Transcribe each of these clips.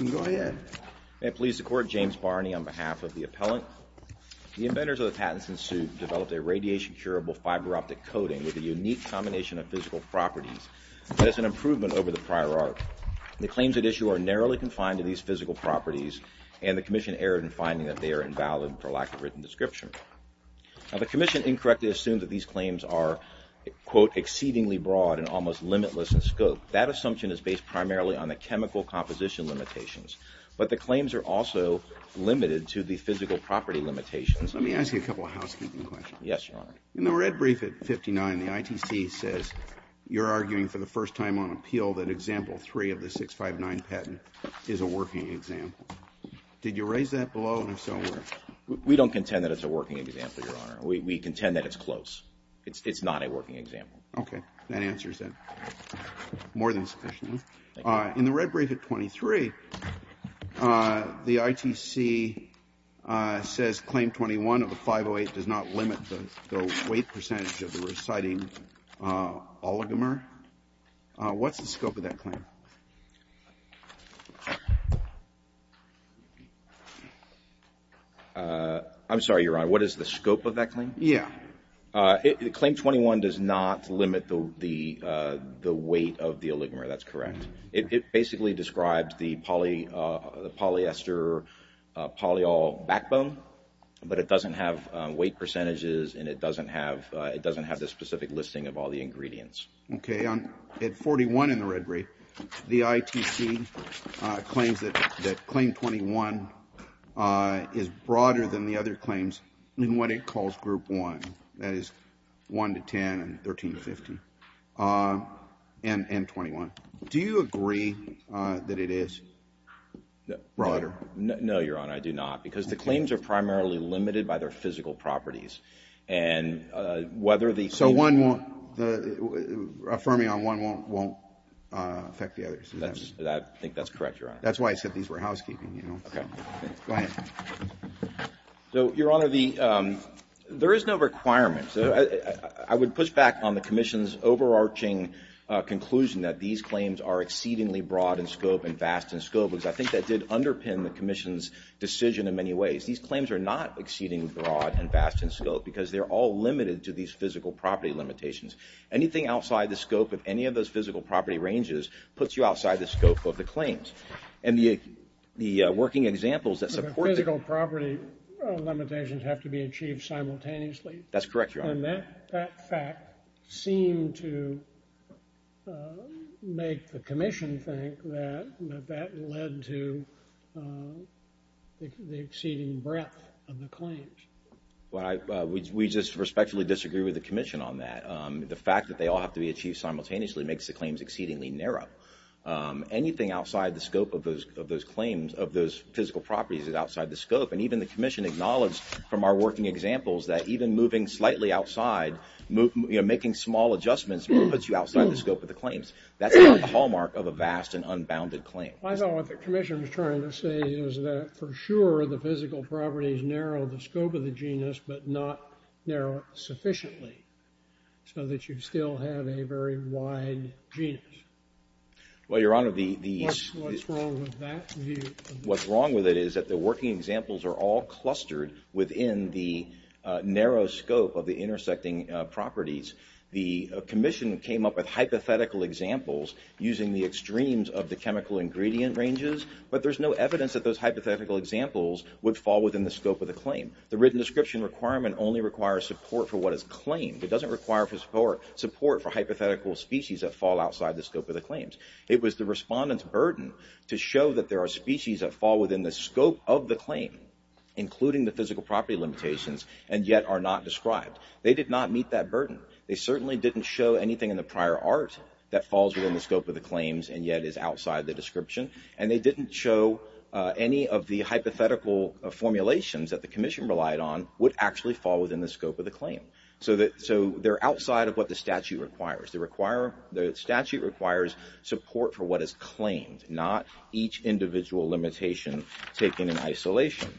May it please the court, James Barney on behalf of the appellant. The inventors of the Pattinson suit developed a radiation-curable fiber-optic coating with a unique combination of physical properties that is an improvement over the prior art. The claims at issue are narrowly confined to these physical properties and the commission erred in finding that they are invalid for lack of written description. Now the commission incorrectly assumed that these claims are, quote, exceedingly broad and almost limitless in scope. That assumption is based primarily on the chemical composition limitations, but the claims are also limited to the physical property limitations. Let me ask you a couple of housekeeping questions. Yes, Your Honor. In the red brief at 59, the ITC says you're arguing for the first time on appeal that example 3 of the 659 patent is a working example. Did you raise that below and if so, where? We don't contend that it's a working example, Your Honor. We contend that it's close. It's not a working example. Okay. That answers it more than sufficiently. In the red brief at 23, the ITC says claim 21 of the 508 does not limit the weight percentage of the reciting oligomer. What's the scope of that claim? I'm sorry, Your Honor. What is the scope of that claim? Yeah. Claim 21 does not limit the weight of the oligomer. That's correct. It basically describes the polyester polyol backbone, but it doesn't have weight percentages and it doesn't have the specific listing of all the ingredients. Okay. At 41 in the red brief, the ITC claims that claim 21 is broader than the other claims in what it calls group 1, that is 1 to 10 and 13 to 50 and 21. Do you agree that it is broader? No, Your Honor. I do not because the claims are primarily limited by their physical properties and whether the... So affirming on one won't affect the others? I think that's correct, Your Honor. That's why I said these were housekeeping. Go ahead. So, Your Honor, there is no requirement. I would push back on the Commission's overarching conclusion that these claims are exceedingly broad in scope and vast in scope because I think that did underpin the Commission's decision in many ways. These claims are not exceedingly broad and vast in scope because they're all limited to these physical property limitations. Anything outside the scope of any of those physical property ranges puts you outside the scope of the claims. And the working examples that support... The physical property limitations have to be achieved simultaneously? That's correct, Your Honor. And that fact seemed to make the Commission think that that led to the exceeding breadth of the claims. We just respectfully disagree with the Commission on that. The fact that they all have to be achieved simultaneously makes the claims exceedingly narrow. Anything outside the scope of those claims, of those physical properties, is outside the scope. And even the Commission acknowledged from our working examples that even moving slightly outside, making small adjustments puts you outside the scope of the claims. That's not the hallmark of a vast and unbounded claim. I thought what the Commission was trying to say is that for sure the physical properties narrow the scope of the genus but not narrow it sufficiently so that you still have a very wide genus. Well, Your Honor, the... What's wrong with that? What's wrong with it is that the working examples are all clustered within the narrow scope of the intersecting properties. The Commission came up with hypothetical examples using the extremes of the chemical ingredient ranges, but there's no evidence that those hypothetical examples would fall within the scope of the claim. The written description requirement only requires support for what is claimed. It doesn't require support for hypothetical species that fall outside the scope of the claims. It was the Respondent's burden to show that there are species that fall within the scope of the claim, including the physical property limitations, and yet are not described. They did not meet that burden. They certainly didn't show anything in the prior art that falls within the scope of the claims and yet is outside the description. And they didn't show any of the hypothetical formulations that the Commission relied on would actually fall within the scope of the claim. So they're outside of what the statute requires. The statute requires support for what is claimed, not each individual limitation taken in isolation.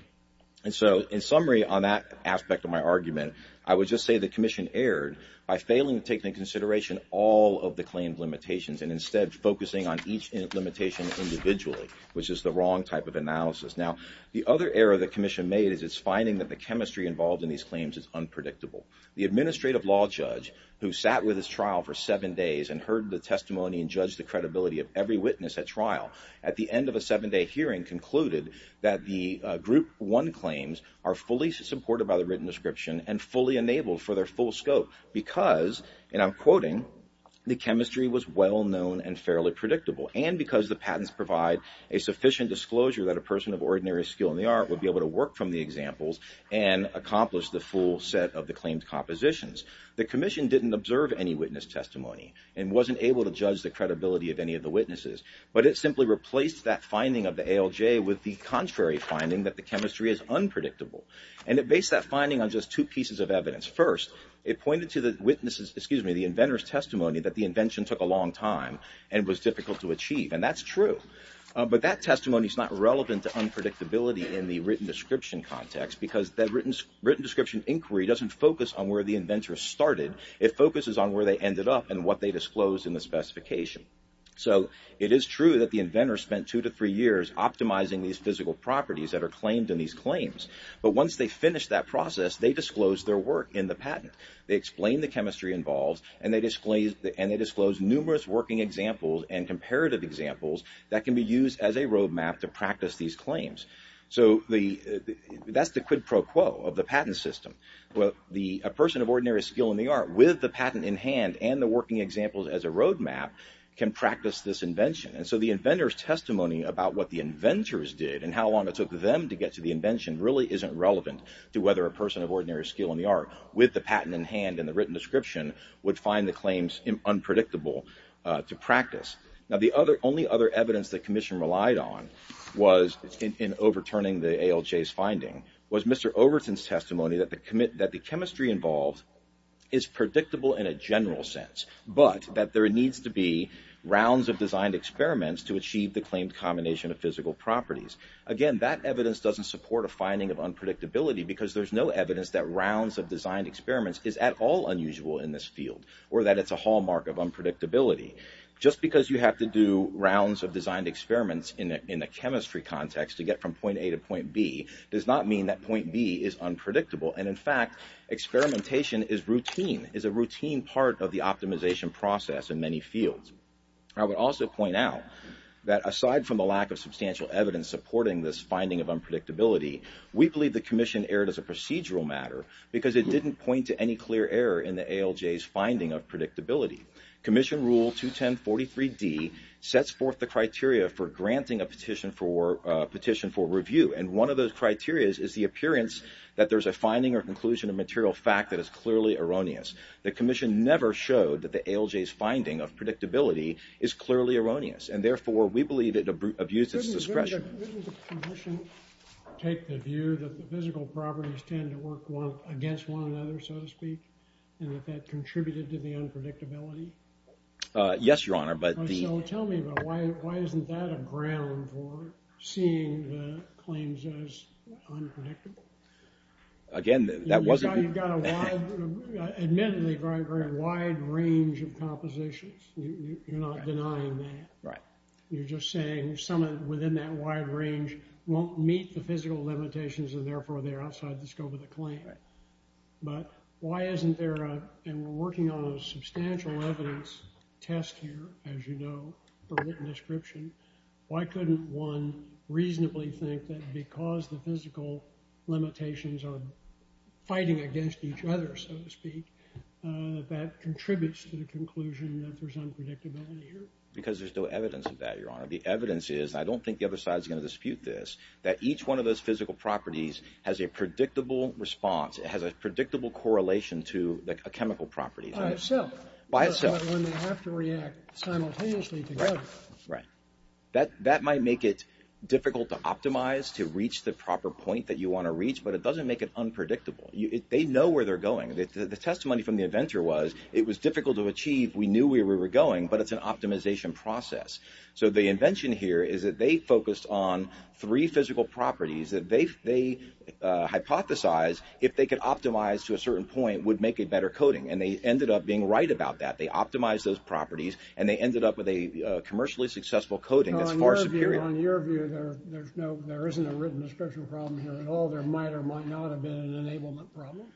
And so in summary on that aspect of my argument, I would just say the Commission erred by failing to take into consideration all of the claimed limitations and instead focusing on each limitation individually, which is the wrong type of analysis. Now, the other error the Commission made is its finding that the chemistry involved in these claims is unpredictable. The Administrative Law Judge, who sat with his trial for seven days and heard the testimony and judged the credibility of every witness at trial, at the end of a seven-day hearing concluded that the Group 1 claims are fully supported by the written description and fully enabled for their full scope because, and I'm quoting, the chemistry was well known and fairly predictable, and because the patents provide a sufficient disclosure that a person of ordinary skill in the art would be able to work from the examples and accomplish the full set of the claimed compositions. The Commission didn't observe any witness testimony and wasn't able to judge the credibility of any of the witnesses, but it simply replaced that finding of the ALJ with the contrary finding that the chemistry is unpredictable. And it based that finding on just two pieces of evidence. First, it pointed to the witness's, excuse me, the inventor's testimony that the invention took a long time and was difficult to achieve, and that's true. But that testimony is not relevant to unpredictability in the written description context because that written description inquiry doesn't focus on where the inventor started. It focuses on where they ended up and what they disclosed in the specification. So it is true that the inventor spent two to three years optimizing these physical properties that are claimed in these claims. But once they finished that process, they disclosed their work in the patent. They explained the chemistry involved and they disclosed numerous working examples and comparative examples that can be used as a roadmap to practice these claims. So that's the quid pro quo of the patent system. A person of ordinary skill in the art with the patent in hand and the working examples as a roadmap can practice this invention. And so the inventor's testimony about what the inventors did and how long it took them to get to the invention really isn't relevant to whether a person of ordinary skill in the art with the patent in hand and the written description would find the claims unpredictable to practice. Now the only other evidence the commission relied on was in overturning the ALJ's finding was Mr. Overton's testimony that the chemistry involved is predictable in a general sense, but that there needs to be rounds of designed experiments to achieve the claimed combination of physical properties. Again, that evidence doesn't support a finding of unpredictability because there's no evidence that rounds of designed experiments is at all unusual in this field or that it's a hallmark of unpredictability. Just because you have to do rounds of designed experiments in a chemistry context to get from point A to point B does not mean that point B is unpredictable. And in fact, experimentation is routine, is a routine part of the optimization process in many fields. I would also point out that aside from the lack of substantial evidence supporting this finding of unpredictability, we believe the commission erred as a procedural matter because it didn't point to any clear error in the ALJ's finding of predictability. Commission Rule 21043D sets forth the criteria for granting a petition for review, and one of those criteria is the appearance that there's a finding or conclusion of material fact that is clearly erroneous. The commission never showed that the ALJ's finding of predictability is clearly erroneous, and therefore we believe it abuses discretion. Doesn't the commission take the view that the physical properties tend to work against one another, so to speak, and that that contributed to the unpredictability? Yes, Your Honor, but the... So tell me, why isn't that a ground for seeing the claims as unpredictable? Again, that wasn't... Admittedly, you've got a very wide range of compositions. You're not denying that. Right. You're just saying someone within that wide range won't meet the physical limitations, and therefore they're outside the scope of the claim. Right. But why isn't there a... And we're working on a substantial evidence test here, as you know, for written description. Why couldn't one reasonably think that because the physical limitations are fighting against each other, so to speak, that that contributes to the conclusion that there's unpredictability here? Because there's no evidence of that, Your Honor. The evidence is, and I don't think the other side's going to dispute this, that each one of those physical properties has a predictable response. It has a predictable correlation to a chemical property. By itself. By itself. When they have to react simultaneously together. Right. That might make it difficult to optimize, to reach the proper point that you want to reach, but it doesn't make it unpredictable. They know where they're going. The testimony from the inventor was, it was difficult to achieve. We knew where we were going, but it's an optimization process. So the invention here is that they focused on three physical properties that they hypothesized, if they could optimize to a certain point, would make a better coding. And they ended up being right about that. They optimized those properties and they ended up with a commercially successful coding that's far superior. On your view, there isn't a written description problem here at all. There might or might not have been an enablement problem.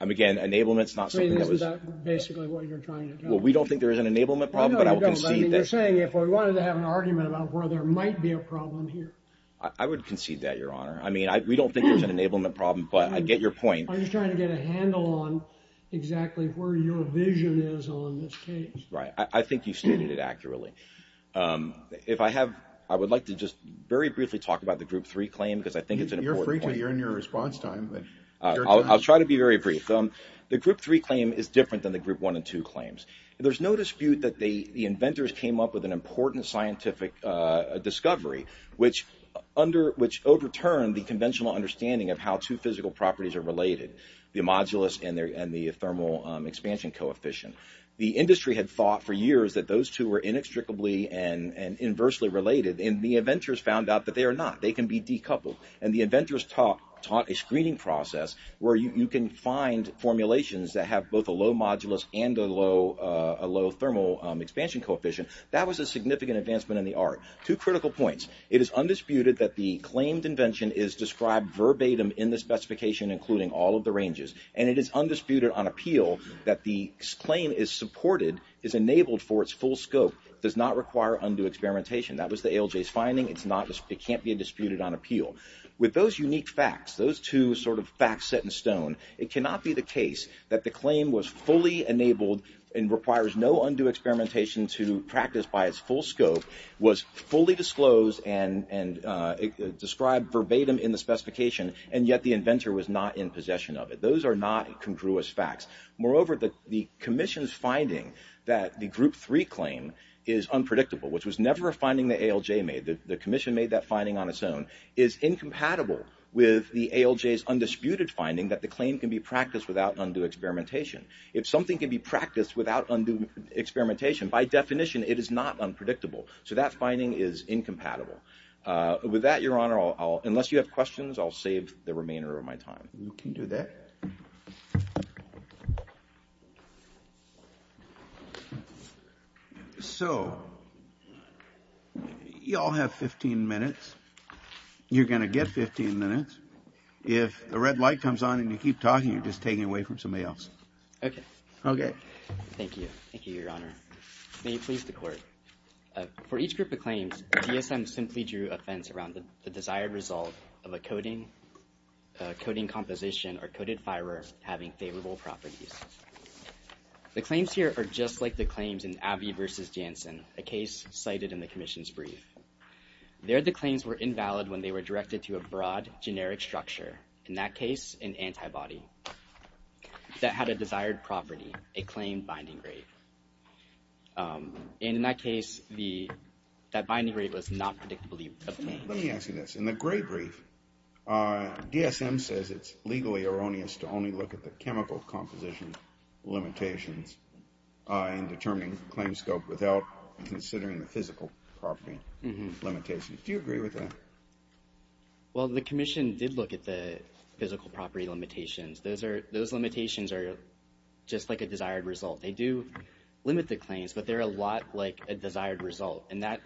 Again, enablement's not something that was... Isn't that basically what you're trying to tell us? Well, we don't think there is an enablement problem, but I will concede that... I know you don't, but you're saying if we wanted to have an argument about where there might be a problem here. I would concede that, Your Honor. I mean, we don't think there's an enablement problem, but I get your point. I'm just trying to get a handle on exactly where your vision is on this case. Right. I think you stated it accurately. If I have, I would like to just very briefly talk about the group three claim, because I think it's an important point. You're free to, you're in your response time. I'll try to be very brief. The group three claim is different than the group one and two claims. There's no dispute that the inventors came up with an important scientific discovery, which overturned the conventional understanding of how two physical properties are related, the modulus and the thermal expansion coefficient. The industry had thought for years that those two were inextricably and inversely related, and the inventors found out that they are not. They can be decoupled. And the inventors taught a screening process where you can find formulations that have both a low modulus and a low thermal expansion coefficient. That was a significant advancement in the art. Two critical points. It is undisputed that the claimed invention is described verbatim in the specification, including all of the ranges, and it is undisputed on appeal that the claim is supported, is enabled for its full scope, does not require undue experimentation. That was the ALJ's finding. It's not, it can't be disputed on appeal. It cannot be the case that the claim was fully enabled and requires no undue experimentation to practice by its full scope, was fully disclosed and described verbatim in the specification, and yet the inventor was not in possession of it. Those are not congruous facts. Moreover, the commission's finding that the group three claim is unpredictable, which was never a finding the ALJ made, the commission made that finding on its own, is incompatible with the ALJ's undisputed finding that the claim can be practiced without undue experimentation. If something can be practiced without undue experimentation, by definition, it is not unpredictable. So that finding is incompatible. With that, Your Honor, unless you have questions, I'll save the remainder of my time. You can do that. So you all have 15 minutes. You're going to get 15 minutes. If the red light comes on and you keep talking, you're just taking away from somebody else. Okay. Okay. Thank you. Thank you, Your Honor. May it please the Court. For each group of claims, DSM simply drew offense around the desired result of a coding composition or coded fiber having favorable properties. The claims here are just like the claims in Abbey v. Jansen, a case cited in the commission's brief. There, the claims were invalid when they were directed to a broad, generic structure, in that case, an antibody that had a desired property, a claimed binding rate. And in that case, that binding rate was not predictably obtained. Let me ask you this. In the gray brief, DSM says it's legally erroneous to only look at the chemical composition limitations in determining claim scope without considering the physical property limitations. Do you agree with that? Well, the commission did look at the physical property limitations. Those limitations are just like a desired result. They do limit the claims, but they're a lot like a desired result. And that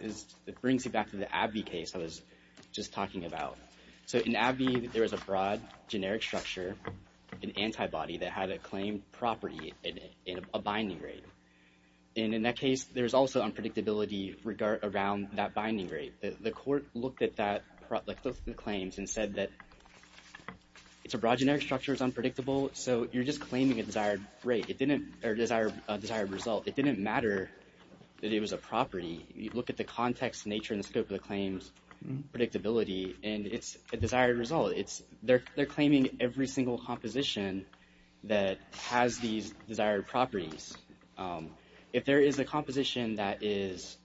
brings me back to the Abbey case I was just talking about. So in Abbey, there was a broad, generic structure, an antibody that had a claimed property, a binding rate. And in that case, there was also unpredictability around that binding rate. The court looked at those claims and said that it's a broad, generic structure. It's unpredictable. So you're just claiming a desired result. It didn't matter that it was a property. You look at the context, nature, and the scope of the claims, predictability, and it's a desired result. They're claiming every single composition that has these desired properties. If there is a composition that is,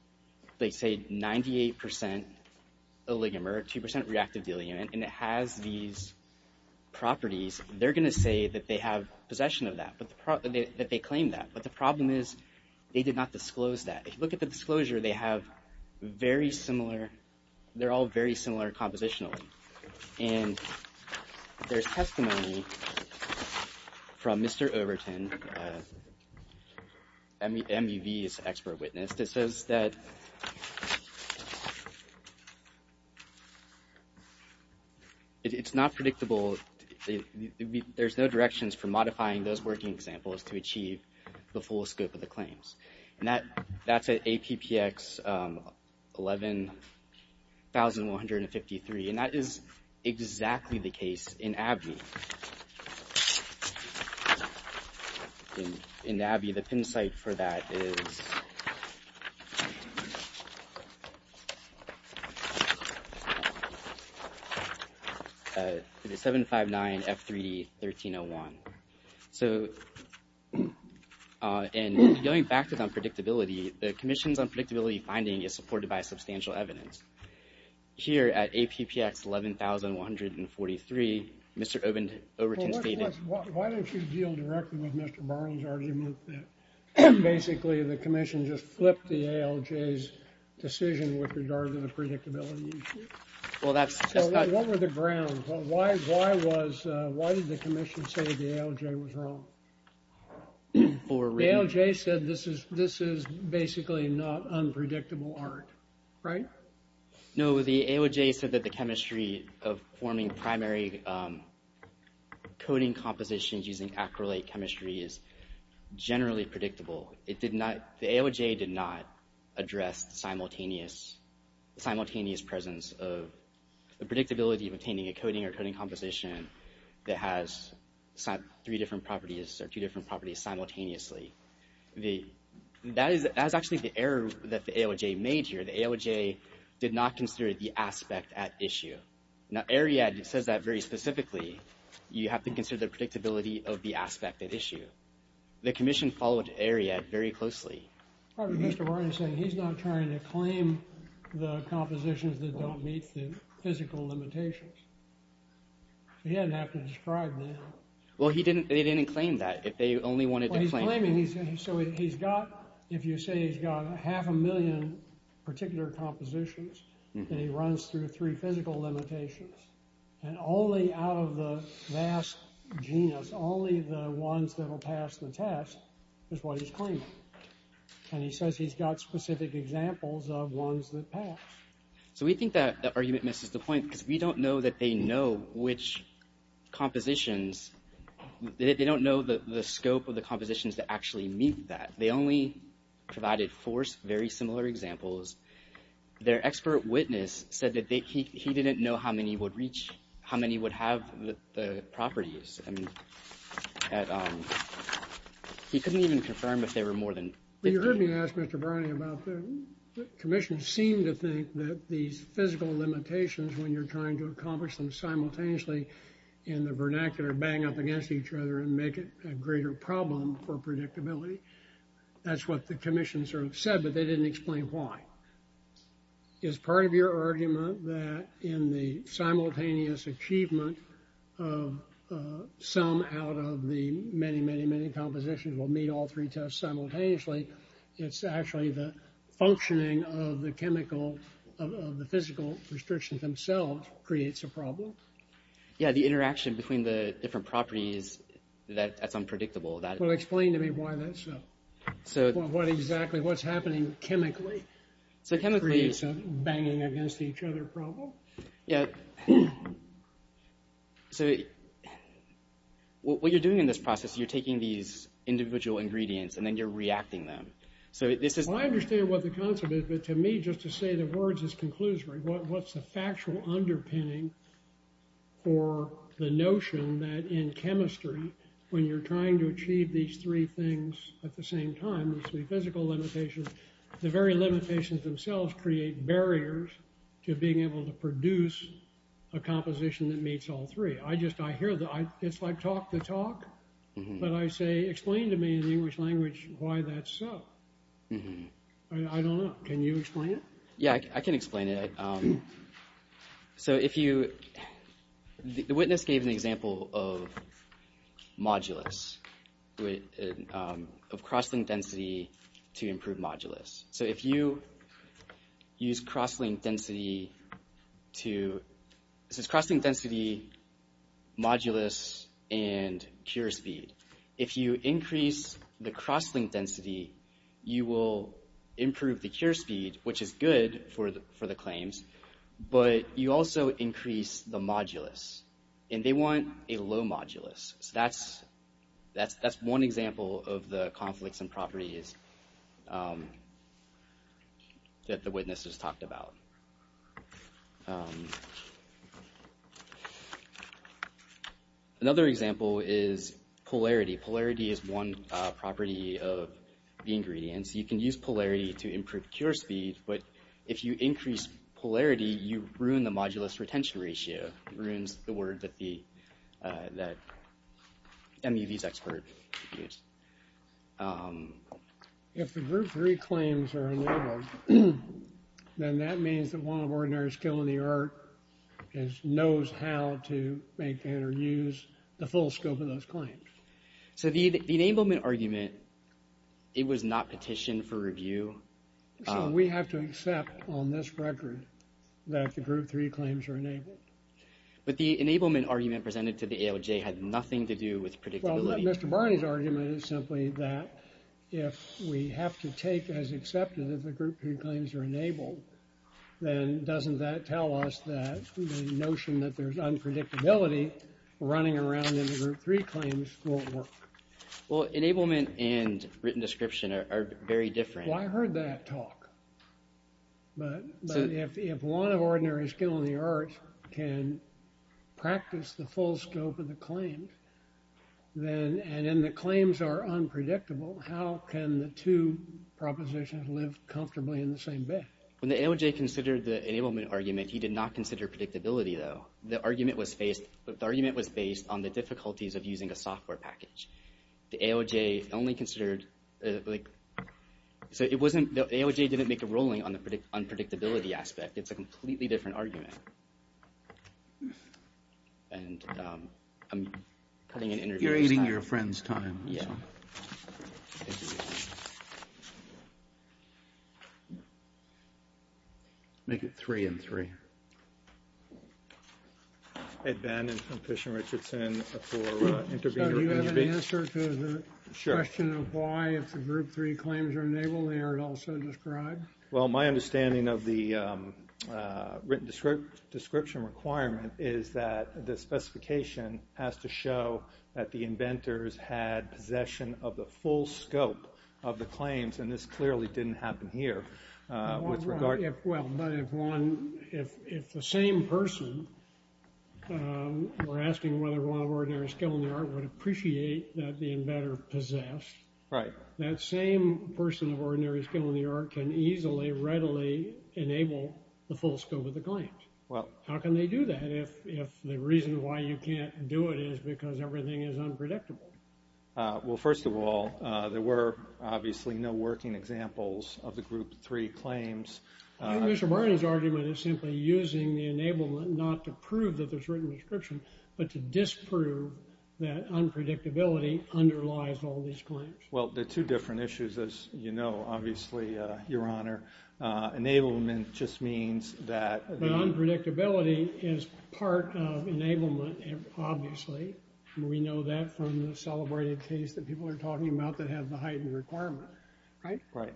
let's say, 98% oligomer, 2% reactive diluent, and it has these properties, they're going to say that they have possession of that, that they claim that. But the problem is they did not disclose that. If you look at the disclosure, they're all very similar compositionally. And there's testimony from Mr. Overton, MUV's expert witness, that says that it's not predictable. There's no directions for modifying those working examples to achieve the full scope of the claims. And that's at APPX 11153, and that is exactly the case in ABBE. In ABBE, the pin site for that is 759F3D1301. And going back to unpredictability, the Commission's unpredictability finding is supported by substantial evidence. Here at APPX 11143, Mr. Overton stated- Why don't you deal directly with Mr. Barlow's argument that basically the Commission just flipped the ALJ's decision with regard to the predictability issue? What were the grounds? Why did the Commission say the ALJ was wrong? The ALJ said this is basically not unpredictable art, right? No, the ALJ said that the chemistry of forming primary coding compositions using acrylate chemistry is generally predictable. The ALJ did not address the simultaneous presence of the predictability of obtaining a coding or coding composition that has three different properties or two different properties simultaneously. That is actually the error that the ALJ made here. The ALJ did not consider the aspect at issue. Now AREAD says that very specifically, you have to consider the predictability of the aspect at issue. The Commission followed AREAD very closely. Mr. Overton is saying he's not trying to claim the compositions that don't meet the physical limitations. He doesn't have to describe them. Well, they didn't claim that. They only wanted to claim- So he's got, if you say he's got half a million particular compositions, and he runs through three physical limitations. And only out of the vast genus, only the ones that will pass the test is what he's claiming. And he says he's got specific examples of ones that pass. So we think that the argument misses the point because we don't know that they know which compositions, they don't know the scope of the compositions that actually meet that. They only provided four very similar examples. Their expert witness said that he didn't know how many would reach, how many would have the properties. And he couldn't even confirm if they were more than- You heard me ask Mr. Browning about the Commission seemed to think that these physical limitations, when you're trying to accomplish them simultaneously in the vernacular, bang up against each other and make it a greater problem for predictability. That's what the Commission sort of said, but they didn't explain why. Is part of your argument that in the simultaneous achievement of some out of the many, many, many compositions will meet all three tests simultaneously, it's actually the functioning of the chemical, of the physical restrictions themselves creates a problem? Yeah, the interaction between the different properties, that's unpredictable. Well, explain to me why that's so. What exactly, what's happening chemically, creates a banging against each other problem? Yeah, so what you're doing in this process, you're taking these individual ingredients and then you're reacting them. So this is- I understand what the concept is, but to me, just to say the words is conclusory. What's the factual underpinning for the notion that in chemistry, when you're trying to achieve these three things at the same time, these three physical limitations, the very limitations themselves create barriers to being able to produce a composition that meets all three. I just, I hear the, it's like talk the talk. But I say, explain to me in English language why that's so. I don't know. Can you explain it? Yeah, I can explain it. So if you, the witness gave an example of modulus, of cross-link density to improve modulus. So if you use cross-link density to, this is cross-link density, modulus, and cure speed. If you increase the cross-link density, you will improve the cure speed, which is good for the claims, but you also increase the modulus. And they want a low modulus. So that's one example of the conflicts and properties that the witness has talked about. Another example is polarity. Polarity is one property of the ingredients. You can use polarity to improve cure speed, but if you increase polarity, you ruin the modulus retention ratio, ruins the word that the, that MEV's expert used. If the group three claims are enabled, then that means that one of ordinary skill in the art knows how to make and use the full scope of those claims. So the enablement argument, it was not petitioned for review. So we have to accept on this record that the group three claims are enabled. But the enablement argument presented to the AOJ had nothing to do with predictability. Well, Mr. Barney's argument is simply that if we have to take as accepted that the group three claims are enabled, then doesn't that tell us that the notion that there's unpredictability running around in the group three claims won't work? Well, enablement and written description are very different. Well, I heard that talk. But if one of ordinary skill in the art can practice the full scope of the claim, then, and then the claims are unpredictable, how can the two propositions live comfortably in the same bed? When the AOJ considered the enablement argument, he did not consider predictability, though. The argument was based, the argument was based on the difficulties of using a software package. The AOJ only considered, like, so it wasn't, the AOJ didn't make a ruling on the unpredictability aspect. It's a completely different argument. And I'm putting an interview. You're eating your friend's time. Make it three and three. Hey, Ben, I'm from Fish and Richardson. Do you have an answer to the question of why if the group three claims are enabled, they are also described? Well, my understanding of the written description requirement is that the specification has to show that the inventors had possession of the full scope of the claims. And this clearly didn't happen here. Well, but if one, if the same person, we're asking whether one of ordinary skill in the art would appreciate that the inventor possessed. Right. That same person of ordinary skill in the art can easily, readily enable the full scope of the claims. How can they do that if the reason why you can't do it is because everything is unpredictable? Well, first of all, there were obviously no working examples of the group three claims. I think Mr. Barney's argument is simply using the enablement not to prove that there's written description, but to disprove that unpredictability underlies all these claims. Well, there are two different issues, as you know, obviously, Your Honor. Enablement just means that- But unpredictability is part of enablement, obviously. We know that from the celebrated case that people are talking about that have the heightened requirement. Right. Right.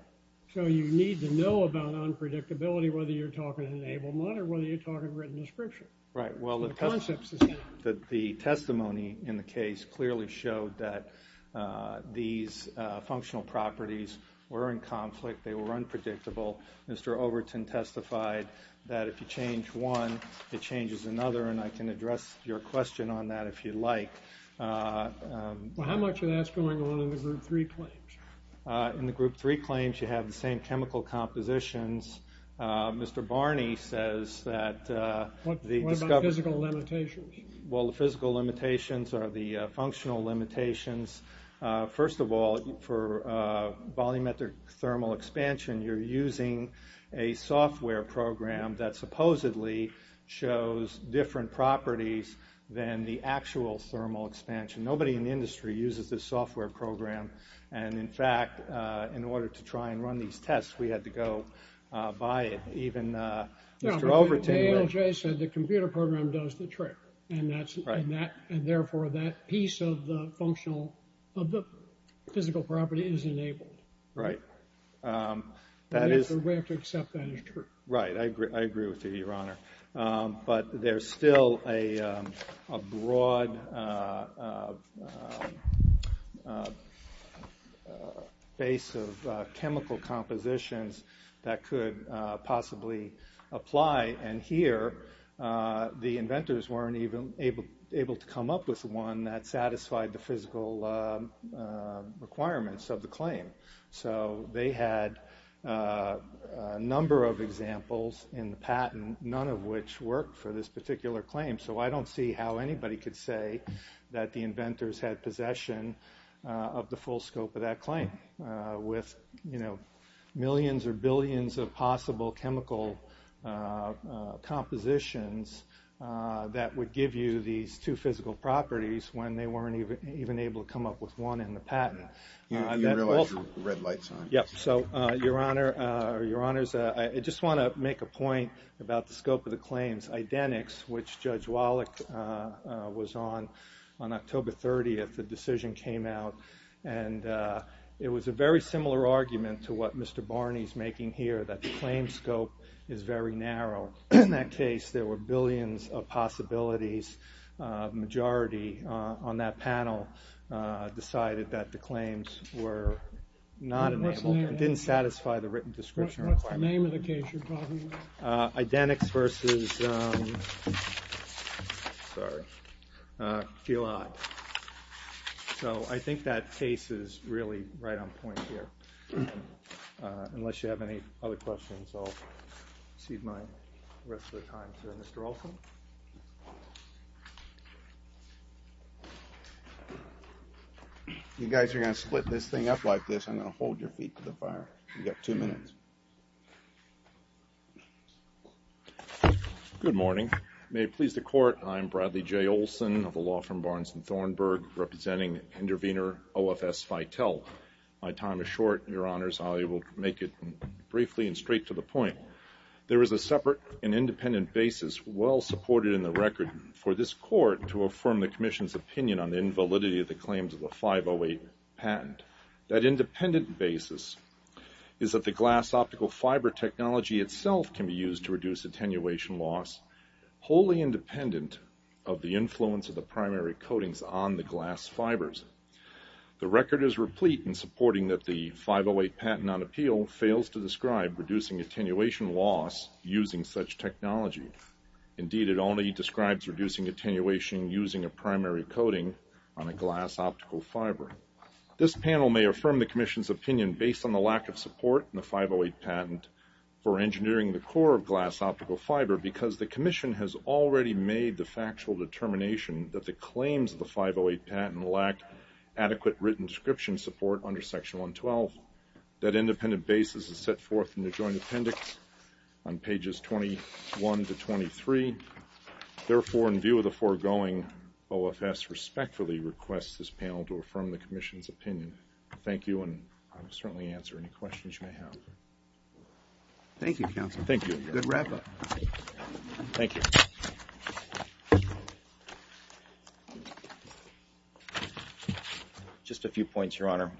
So you need to know about unpredictability, whether you're talking enablement or whether you're talking written description. Right. Well, the testimony in the case clearly showed that these functional properties were in conflict. They were unpredictable. Mr. Overton testified that if you change one, it changes another, and I can address your question on that if you'd like. Well, how much of that's going on in the group three claims? In the group three claims, you have the same chemical compositions. Mr. Barney says that- What about physical limitations? Well, the physical limitations are the functional limitations. First of all, for volumetric thermal expansion, you're using a software program that supposedly shows different properties than the actual thermal expansion. Nobody in the industry uses this software program. And, in fact, in order to try and run these tests, we had to go buy it. Even Mr. Overton- No, but ALJ said the computer program does the trick. Right. And, therefore, that piece of the physical property is enabled. Right. We have to accept that as true. Right. I agree with you, Your Honor. But there's still a broad base of chemical compositions that could possibly apply. And, here, the inventors weren't even able to come up with one that satisfied the physical requirements of the claim. So, they had a number of examples in the patent, none of which worked for this particular claim. So, I don't see how anybody could say that the inventors had possession of the full scope of that claim with, you know, millions or billions of possible chemical compositions that would give you these two physical properties when they weren't even able to come up with one in the patent. You realize your red light's on. Yep. So, Your Honor, I just want to make a point about the scope of the claims. Identix, which Judge Wallach was on, on October 30th, the decision came out. And it was a very similar argument to what Mr. Barney's making here, that the claim scope is very narrow. In that case, there were billions of possibilities. The majority on that panel decided that the claims were not enabled. What's the name of it? It didn't satisfy the written description requirements. What's the name of the case you're talking about? Identix versus, sorry. Feel Hot. So, I think that case is really right on point here. Unless you have any other questions, I'll cede my rest of the time to Mr. Olson. You guys are going to split this thing up like this. I'm going to hold your feet to the fire. You've got two minutes. Good morning. May it please the Court, I'm Bradley J. Olson of the law firm Barnes & Thornburg, representing intervener OFS Fitel. My time is short, Your Honors. I will make it briefly and straight to the point. There is a separate and independent basis, well supported in the record, for this Court to affirm the Commission's opinion on the invalidity of the claims of the 508 patent. That independent basis is that the glass optical fiber technology itself can be used to reduce attenuation loss, wholly independent of the influence of the primary coatings on the glass fibers. The record is replete in supporting that the 508 patent on appeal fails to describe reducing attenuation loss using such technology. Indeed, it only describes reducing attenuation using a primary coating on a glass optical fiber. This panel may affirm the Commission's opinion based on the lack of support in the 508 patent for engineering the core of glass optical fiber because the Commission has already made the factual determination that the claims of the 508 patent lack adequate written description support under Section 112. That independent basis is set forth in the joint appendix on pages 21 to 23. Therefore, in view of the foregoing, OFS respectfully requests this panel to affirm the Commission's opinion. Thank you, and I will certainly answer any questions you may have. Thank you, Counselor. Thank you. Good wrap-up. Thank you. Just a few points, Your Honor.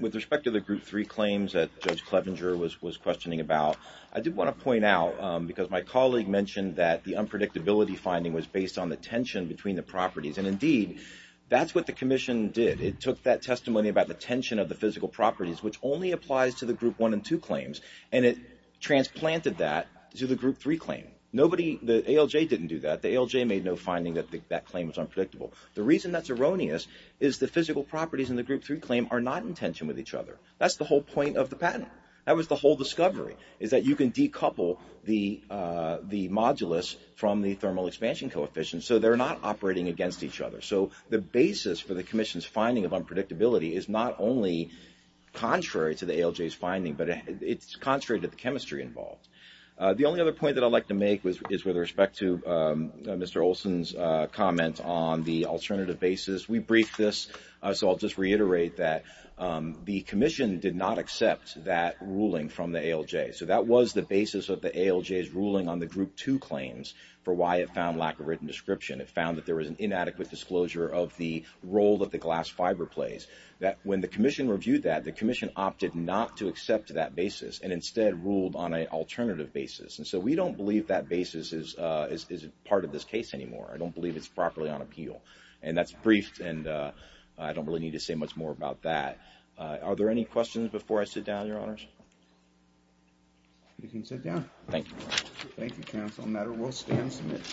With respect to the Group 3 claims that Judge Clevenger was questioning about, I did want to point out because my colleague mentioned that the unpredictability finding was based on the tension between the properties, and indeed, that's what the Commission did. It took that testimony about the tension of the physical properties, which only applies to the Group 1 and 2 claims, and it transplanted that to the Group 3 claim. Nobody, the ALJ didn't do that. The ALJ made no finding that that claim was unpredictable. The reason that's erroneous is the physical properties in the Group 3 claim are not in tension with each other. That's the whole point of the patent. That was the whole discovery, is that you can decouple the modulus from the thermal expansion coefficient, so they're not operating against each other. So the basis for the Commission's finding of unpredictability is not only contrary to the ALJ's finding, but it's contrary to the chemistry involved. The only other point that I'd like to make is with respect to Mr. Olson's comment on the alternative basis. We briefed this, so I'll just reiterate that the Commission did not accept that ruling from the ALJ. So that was the basis of the ALJ's ruling on the Group 2 claims for why it found lack of written description. It found that there was an inadequate disclosure of the role that the glass fiber plays. When the Commission reviewed that, the Commission opted not to accept that basis and instead ruled on an alternative basis, and so we don't believe that basis is part of this case anymore. I don't believe it's properly on appeal. And that's briefed, and I don't really need to say much more about that. Are there any questions before I sit down, Your Honors? You can sit down. Thank you. Thank you, Counsel. The matter will stand submitted.